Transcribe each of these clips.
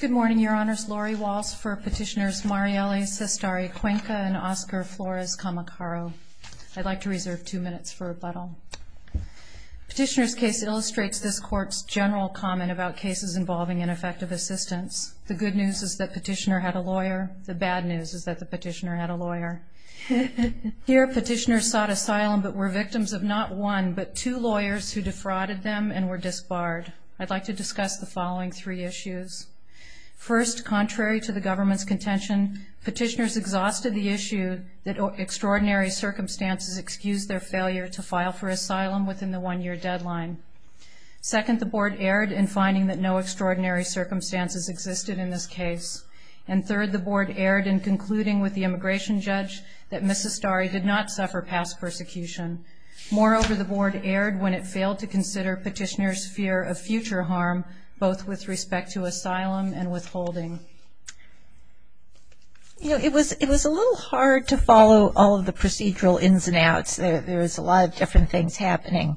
Good morning, Your Honors. Lori Walsh for Petitioners Marieli Cestari-Cuenca and Oscar Flores-Camacaro. I'd like to reserve two minutes for rebuttal. Petitioner's case illustrates this Court's general comment about cases involving ineffective assistance. The good news is that the petitioner had a lawyer. The bad news is that the petitioner had a lawyer. Here, petitioners sought asylum but were victims of not one but two lawyers who defrauded them and were disbarred. I'd like to discuss the following three issues. First, contrary to the government's contention, petitioners exhausted the issue that extraordinary circumstances excused their failure to file for asylum within the one-year deadline. Second, the Board erred in finding that no extraordinary circumstances existed in this case. And third, the Board erred in concluding with the immigration judge that Ms. Cestari did not suffer past persecution. Moreover, the Board erred when it failed to consider petitioners' fear of future harm, both with respect to asylum and withholding. You know, it was a little hard to follow all of the procedural ins and outs. There was a lot of different things happening.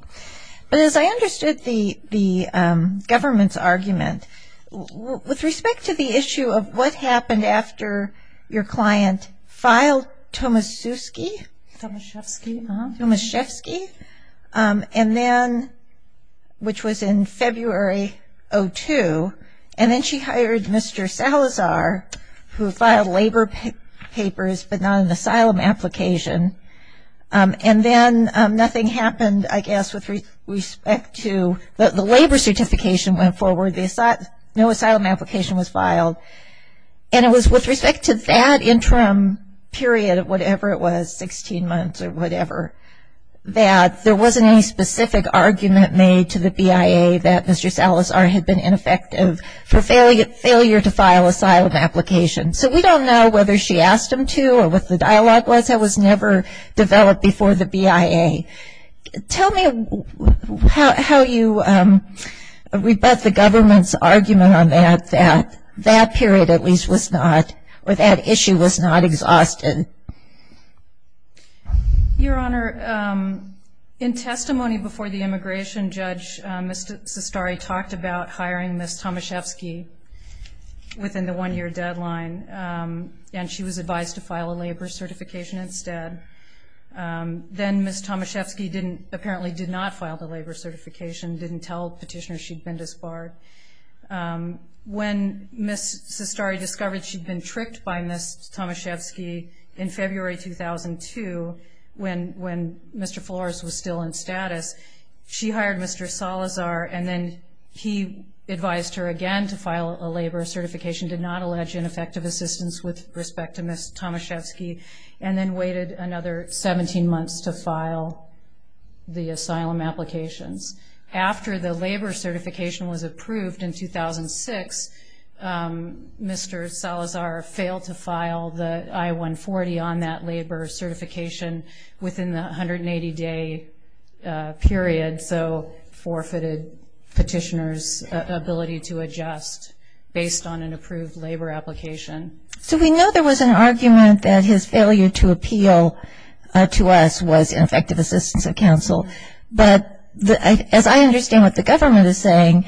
But as I understood the government's argument, with respect to the issue of what happened after your client filed Tomaszewski, Tomaszewski, and then, which was in February of 2002, and then she hired Mr. Salazar, who filed labor papers but not an asylum application. And then nothing happened, I guess, with respect to the labor certification went forward. No asylum application was filed. And it was with respect to that interim period of whatever it was, 16 months or whatever, that there wasn't any specific argument made to the BIA that Mr. Salazar had been ineffective for failure to file asylum applications. So we don't know whether she asked him to or what the dialogue was. That was never developed before the BIA. Tell me how you rebut the government's argument on that, that that period at least was not, or that issue was not exhausted. Your Honor, in testimony before the immigration judge, Ms. Sestari talked about hiring Ms. Tomaszewski within the one-year deadline, and she was advised to file a labor certification instead. Then Ms. Tomaszewski apparently did not file the labor certification, didn't tell petitioners she'd been disbarred. When Ms. Sestari discovered she'd been tricked by Ms. Tomaszewski in February 2002, when Mr. Flores was still in status, she hired Mr. Salazar, and then he advised her again to file a labor certification, did not allege ineffective assistance with respect to Ms. Tomaszewski, and then waited another 17 months to file the asylum applications. After the labor certification was approved in 2006, Mr. Salazar failed to file the I-140 on that labor certification within the 180-day period, so forfeited petitioners' ability to adjust based on an approved labor application. So we know there was an argument that his failure to appeal to us was ineffective assistance of counsel, but as I understand what the government is saying,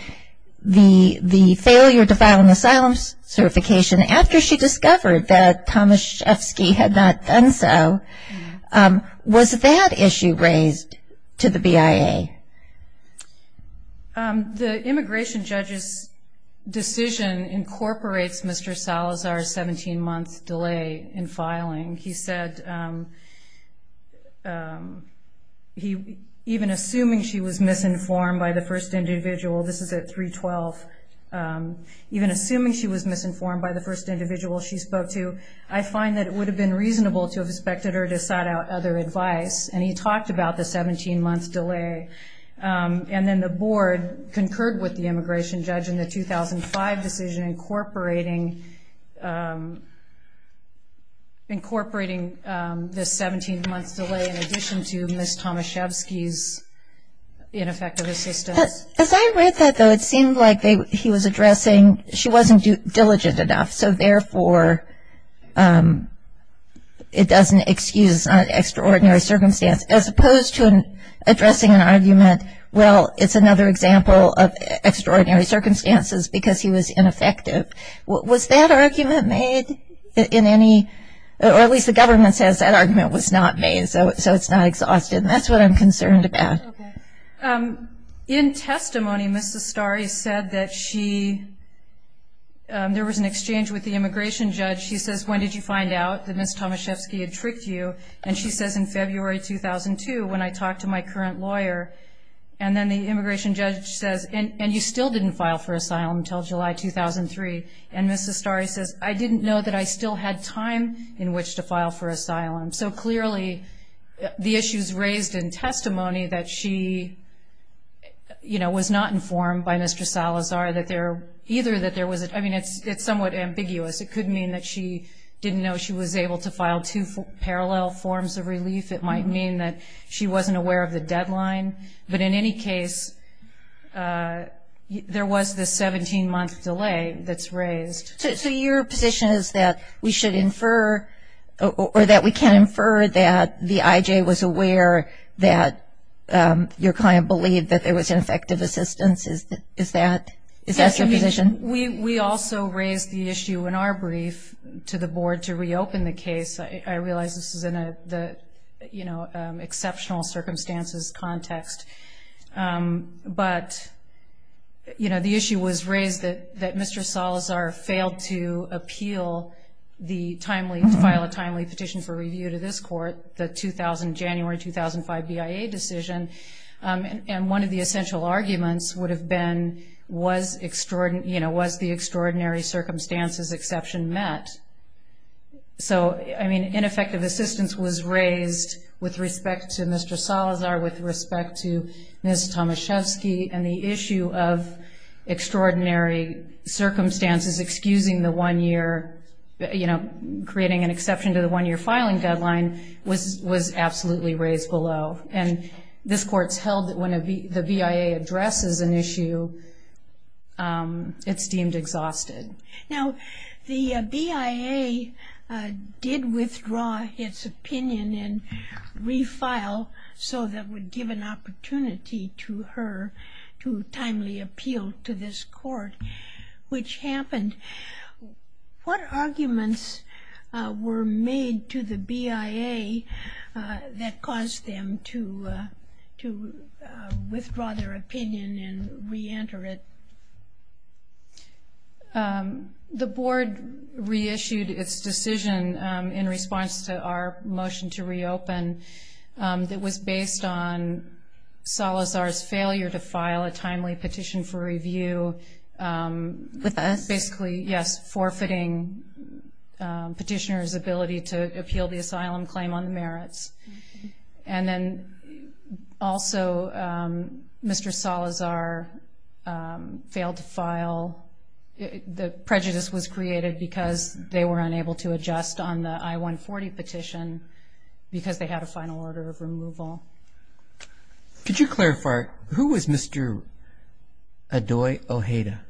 the failure to file an asylum certification after she discovered that Tomaszewski had not done so, was that issue raised to the BIA? The immigration judge's decision incorporates Mr. Salazar's 17-month delay in filing. He said even assuming she was misinformed by the first individual, this is at 312, even assuming she was misinformed by the first individual she spoke to, I find that it would have been reasonable to have expected her to have sought out other advice, and he talked about the 17-month delay, and then the board concurred with the immigration judge in the 2005 decision incorporating this 17-month delay in addition to Ms. Tomaszewski's ineffective assistance. As I read that, though, it seemed like he was addressing she wasn't diligent enough, so therefore it doesn't excuse an extraordinary circumstance, as opposed to addressing an argument, well, it's another example of extraordinary circumstances, because he was ineffective. Was that argument made in any, or at least the government says that argument was not made, so it's not exhausted, and that's what I'm concerned about. In testimony, Ms. Zastari said that she, there was an exchange with the immigration judge. She says, when did you find out that Ms. Tomaszewski had tricked you, and she says in February 2002 when I talked to my current lawyer, and then the immigration judge says, and you still didn't file for asylum until July 2003, and Ms. Zastari says, I didn't know that I still had time in which to file for asylum. So clearly the issues raised in testimony that she, you know, was not informed by Mr. Salazar that there, either that there was, I mean, it's somewhat ambiguous. It could mean that she didn't know she was able to file two parallel forms of relief. It might mean that she wasn't aware of the deadline. But in any case, there was this 17-month delay that's raised. So your position is that we should infer or that we can infer that the IJ was aware that your client believed that there was ineffective assistance? Is that your position? We also raised the issue in our brief to the board to reopen the case. I realize this is in an exceptional circumstances context. But, you know, the issue was raised that Mr. Salazar failed to appeal the timely, to file a timely petition for review to this court, the 2000, January 2005 BIA decision. And one of the essential arguments would have been was extraordinary, you know, was the extraordinary circumstances exception met? So, I mean, ineffective assistance was raised with respect to Mr. Salazar, with respect to Ms. Tomaszewski, and the issue of extraordinary circumstances, excusing the one-year, you know, creating an exception to the one-year filing deadline, was absolutely raised below. And this court's held that when the BIA addresses an issue, it's deemed exhausted. Now, the BIA did withdraw its opinion and refile, so that would give an opportunity to her to timely appeal to this court, which happened. What arguments were made to the BIA that caused them to withdraw their opinion and reenter it? The board reissued its decision in response to our motion to reopen that was based on Salazar's failure to file a timely petition for review. With us? Basically, yes, forfeiting petitioner's ability to appeal the asylum claim on the merits. And then also, Mr. Salazar failed to file. The prejudice was created because they were unable to adjust on the I-140 petition because they had a final order of removal. Could you clarify, who was Mr. Adoy Ojeda?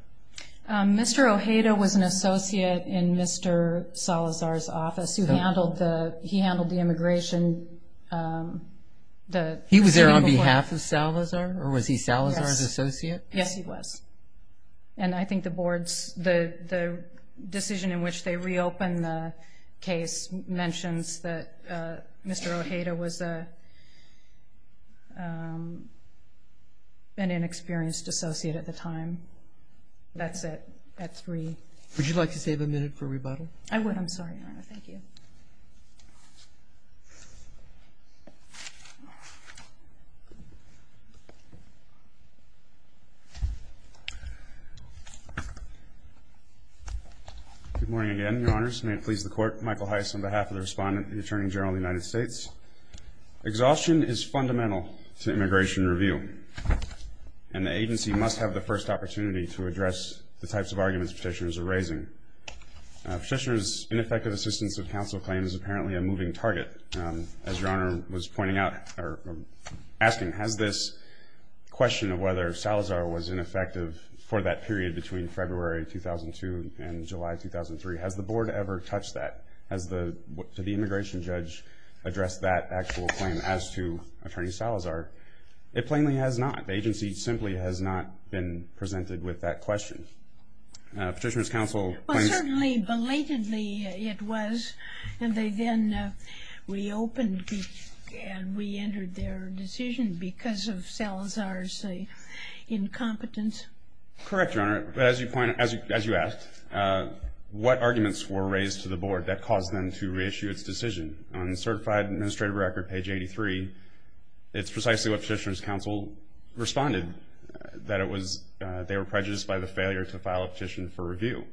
Mr. Ojeda was an associate in Mr. Salazar's office. He handled the immigration. He was there on behalf of Salazar, or was he Salazar's associate? Yes, he was. And I think the decision in which they reopened the case mentions that Mr. Ojeda was an inexperienced associate at the time. That's it. That's three. Would you like to save a minute for rebuttal? I would. I'm sorry, Your Honor. Thank you. Good morning again, Your Honors. May it please the Court, Michael Heiss on behalf of the Respondent, the Attorney General of the United States. Exhaustion is fundamental to immigration review, and the agency must have the first opportunity to address the types of arguments petitioners are raising. Petitioner's ineffective assistance of counsel claims is apparently a moving target. As Your Honor was pointing out or asking, has this question of whether Salazar was ineffective for that period between February 2002 and July 2003, has the Board ever touched that? Has the immigration judge addressed that actual claim as to Attorney Salazar? It plainly has not. The agency simply has not been presented with that question. Petitioner's counsel claims. Well, certainly belatedly it was, and they then reopened and reentered their decision because of Salazar's incompetence. Correct, Your Honor. As you asked, what arguments were raised to the Board that caused them to reissue its decision? On the certified administrative record, page 83, it's precisely what petitioner's counsel responded, that they were prejudiced by the failure to file a petition for review.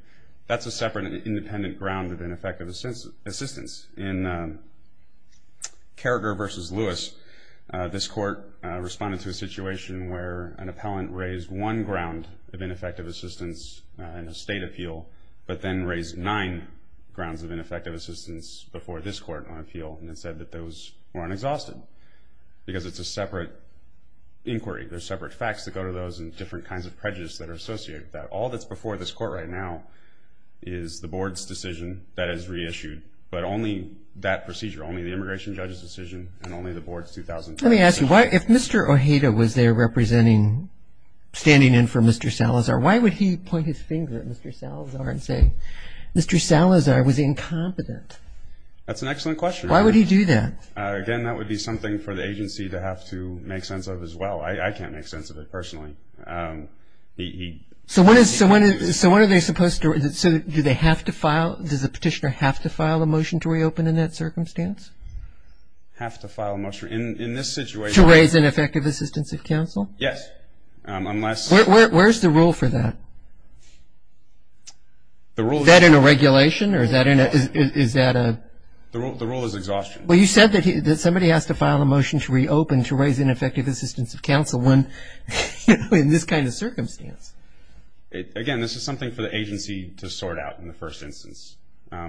That's a separate and independent ground of ineffective assistance. In Carragher v. Lewis, this Court responded to a situation where an appellant raised one ground of ineffective assistance in a state appeal, but then raised nine grounds of ineffective assistance before this Court on appeal and said that those weren't exhausted because it's a separate inquiry. There's separate facts that go to those and different kinds of prejudice that are associated with that. All that's before this Court right now is the Board's decision that is reissued, but only that procedure, only the immigration judge's decision and only the Board's 2004 decision. Let me ask you, if Mr. Ojeda was there standing in for Mr. Salazar, why would he point his finger at Mr. Salazar and say, Mr. Salazar was incompetent? That's an excellent question. Why would he do that? Again, that would be something for the agency to have to make sense of as well. I can't make sense of it personally. So what are they supposed to do? Does the petitioner have to file a motion to reopen in that circumstance? Have to file a motion. In this situation. To raise ineffective assistance of counsel? Yes, unless. Where's the rule for that? The rule. Is that in a regulation or is that a? The rule is exhaustion. Well, you said that somebody has to file a motion to reopen to raise ineffective assistance of counsel when in this kind of circumstance. Again, this is something for the agency to sort out in the first instance.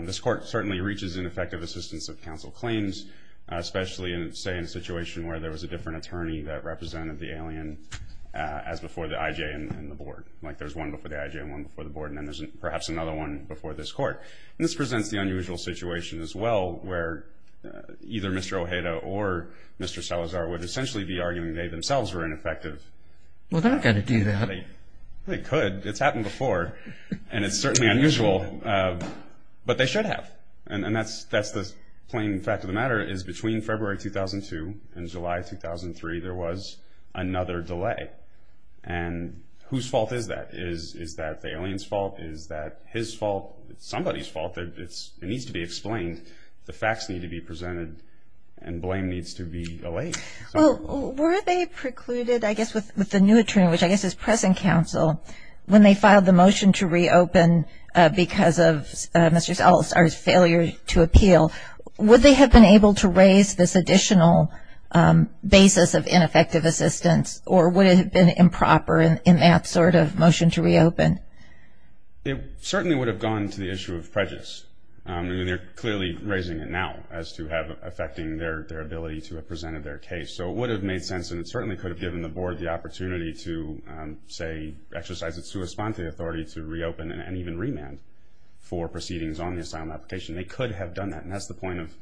This court certainly reaches ineffective assistance of counsel claims, especially, say, in a situation where there was a different attorney that represented the alien as before the IJ and the board, like there's one before the IJ and one before the board, and then there's perhaps another one before this court. And this presents the unusual situation as well where either Mr. Ojeda or Mr. Salazar would essentially be arguing they themselves were ineffective. Well, they're not going to do that. They could. It's happened before. And it's certainly unusual, but they should have. And that's the plain fact of the matter is between February 2002 and July 2003 there was another delay. And whose fault is that? Is that the alien's fault? Is that his fault? It's somebody's fault. It needs to be explained. The facts need to be presented and blame needs to be allayed. Well, were they precluded, I guess, with the new attorney, which I guess is present counsel, when they filed the motion to reopen because of Mr. Salazar's failure to appeal, would they have been able to raise this additional basis of ineffective assistance or would it have been improper in that sort of motion to reopen? It certainly would have gone to the issue of prejudice. I mean, they're clearly raising it now as to affecting their ability to have presented their case. So it would have made sense and it certainly could have given the Board the opportunity to, say, exercise its sua sponte authority to reopen and even remand for proceedings on the asylum application. They could have done that, and that's the point of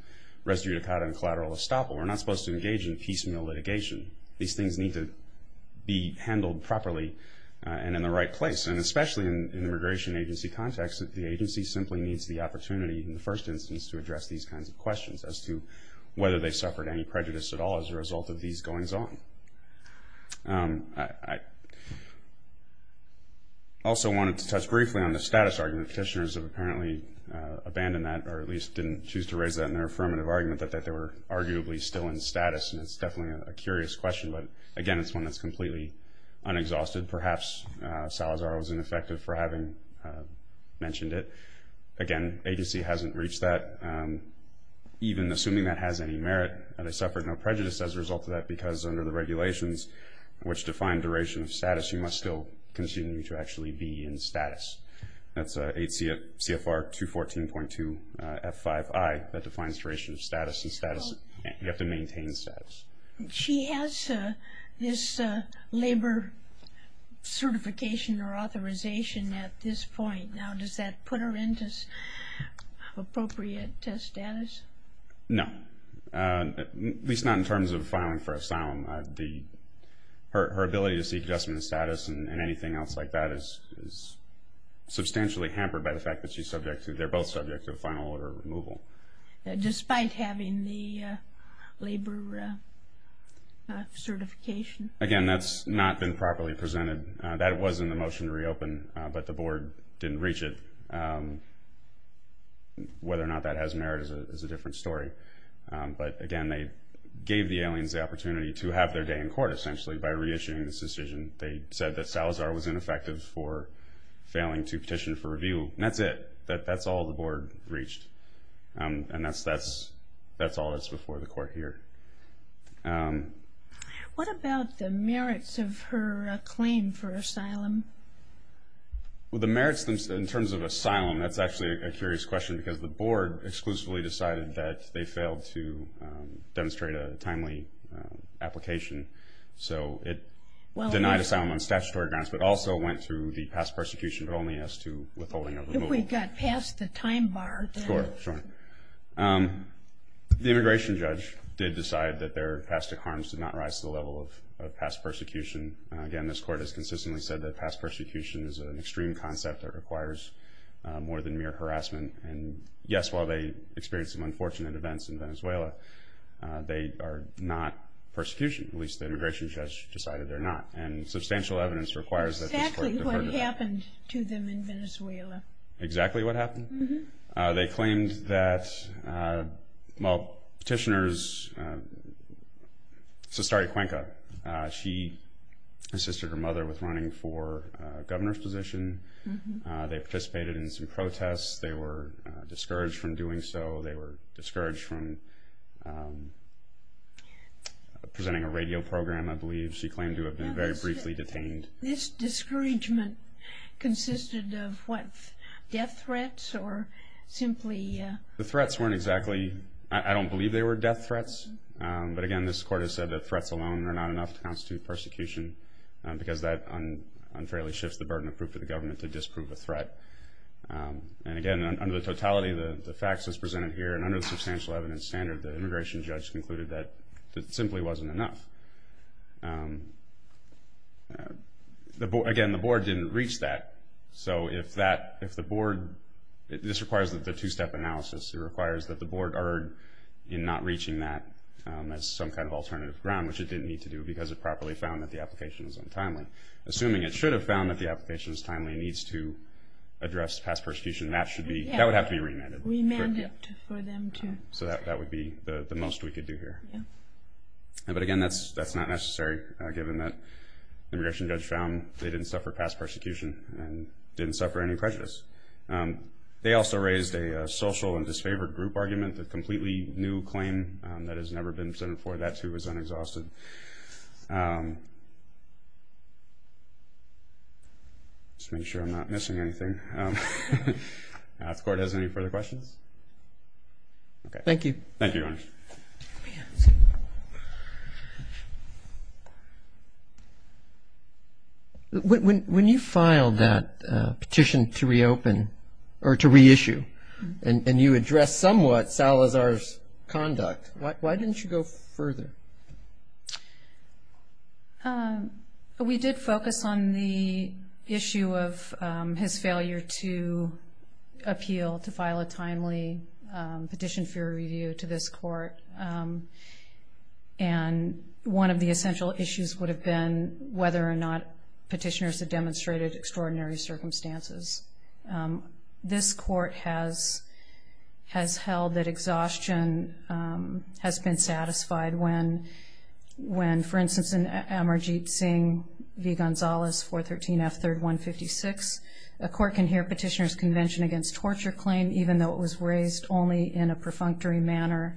res judicata and collateral estoppel. We're not supposed to engage in piecemeal litigation. These things need to be handled properly and in the right place, and especially in an immigration agency context that the agency simply needs the opportunity, in the first instance, to address these kinds of questions as to whether they suffered any prejudice at all as a result of these goings on. I also wanted to touch briefly on the status argument. Petitioners have apparently abandoned that or at least didn't choose to raise that in their affirmative argument, that they were arguably still in status, and it's definitely a curious question. But, again, it's one that's completely unexhausted. Perhaps Salazar was ineffective for having mentioned it. Again, agency hasn't reached that. Even assuming that has any merit, they suffered no prejudice as a result of that because under the regulations which define duration of status, you must still continue to actually be in status. That's 8 CFR 214.2 F5I that defines duration of status, and you have to maintain status. She has this labor certification or authorization at this point. Now, does that put her into appropriate status? No, at least not in terms of filing for asylum. Her ability to seek adjustment of status and anything else like that is substantially hampered by the fact that they're both subject to a final order of removal. Despite having the labor certification? Again, that's not been properly presented. That was in the motion to reopen, but the board didn't reach it. Whether or not that has merit is a different story. But, again, they gave the aliens the opportunity to have their day in court, essentially, by reissuing this decision. They said that Salazar was ineffective for failing to petition for review, and that's it. That's all the board reached, and that's all that's before the court here. What about the merits of her claim for asylum? Well, the merits in terms of asylum, that's actually a curious question, because the board exclusively decided that they failed to demonstrate a timely application. So it denied asylum on statutory grounds, but also went through the past persecution, but only as to withholding of removal. If we got past the time bar. Sure, sure. The immigration judge did decide that their past harms did not rise to the level of past persecution. Again, this court has consistently said that past persecution is an extreme concept that requires more than mere harassment. And, yes, while they experienced some unfortunate events in Venezuela, they are not persecution. At least the immigration judge decided they're not. And substantial evidence requires that this court defer to them. Exactly what happened to them in Venezuela. Exactly what happened? They claimed that, well, petitioners, Sestari Cuenca, she assisted her mother with running for governor's position. They participated in some protests. They were discouraged from doing so. They were discouraged from presenting a radio program, I believe. She claimed to have been very briefly detained. This discouragement consisted of what? Death threats or simply? The threats weren't exactly. I don't believe they were death threats. But, again, this court has said that threats alone are not enough to constitute persecution because that unfairly shifts the burden of proof to the government to disprove a threat. And, again, under the totality of the facts as presented here and under the substantial evidence standard, the immigration judge concluded that it simply wasn't enough. Again, the board didn't reach that. So if the board, this requires the two-step analysis. It requires that the board erred in not reaching that as some kind of alternative ground, which it didn't need to do because it properly found that the application was untimely. Assuming it should have found that the application is timely and needs to address past persecution, that would have to be remanded. Remanded for them to? So that would be the most we could do here. But, again, that's not necessary given that the immigration judge found they didn't suffer past persecution and didn't suffer any prejudice. They also raised a social and disfavored group argument, a completely new claim that has never been presented before. That, too, is unexhausted. Just to make sure I'm not missing anything. If the court has any further questions? Thank you. Thank you, Your Honor. When you filed that petition to reopen or to reissue and you addressed somewhat Salazar's conduct, why didn't you go further? We did focus on the issue of his failure to appeal, to file a timely petition for review to this court. And one of the essential issues would have been whether or not petitioners had demonstrated extraordinary circumstances. This court has held that exhaustion has been satisfied when, for instance, in Amarjeet Singh v. Gonzalez 413 F. 3rd 156, a court can hear petitioner's Convention Against Torture claim even though it was raised only in a perfunctory manner.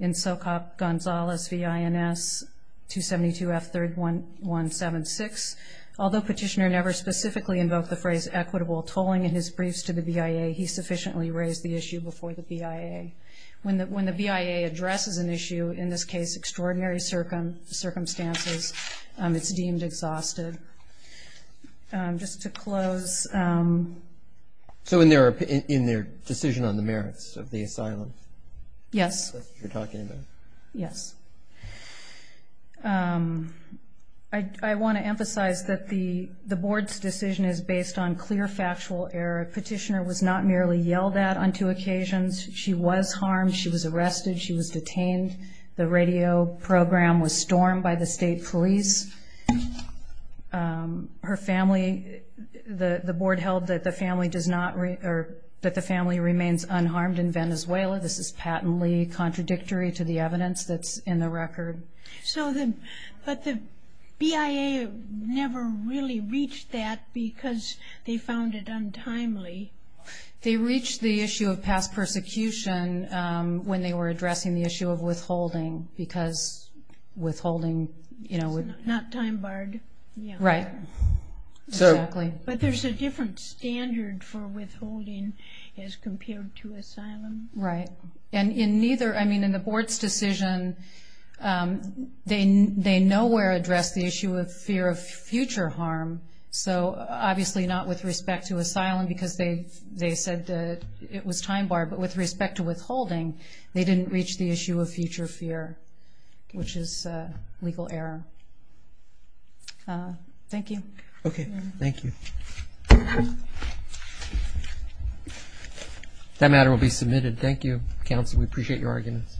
In Socop Gonzalez v. INS 272 F. 3rd 176, although petitioner never specifically invoked the phrase equitable tolling in his briefs to the BIA, he sufficiently raised the issue before the BIA. When the BIA addresses an issue, in this case extraordinary circumstances, it's deemed exhausted. Just to close. So in their decision on the merits of the asylum? Yes. That's what you're talking about. Yes. I want to emphasize that the board's decision is based on clear factual error. Petitioner was not merely yelled at on two occasions. She was harmed. She was arrested. She was detained. The radio program was stormed by the state police. Her family, the board held that the family remains unharmed in Venezuela. This is patently contradictory to the evidence that's in the record. But the BIA never really reached that because they found it untimely. They reached the issue of past persecution when they were addressing the issue of withholding because withholding. Not time barred. Right. Exactly. But there's a different standard for withholding as compared to asylum. Right. And in neither, I mean, in the board's decision, they nowhere addressed the issue of fear of future harm. So obviously not with respect to asylum because they said it was time barred. But with respect to withholding, they didn't reach the issue of future fear, which is legal error. Thank you. Okay. Thank you. That matter will be submitted. Thank you, counsel. We appreciate your arguments.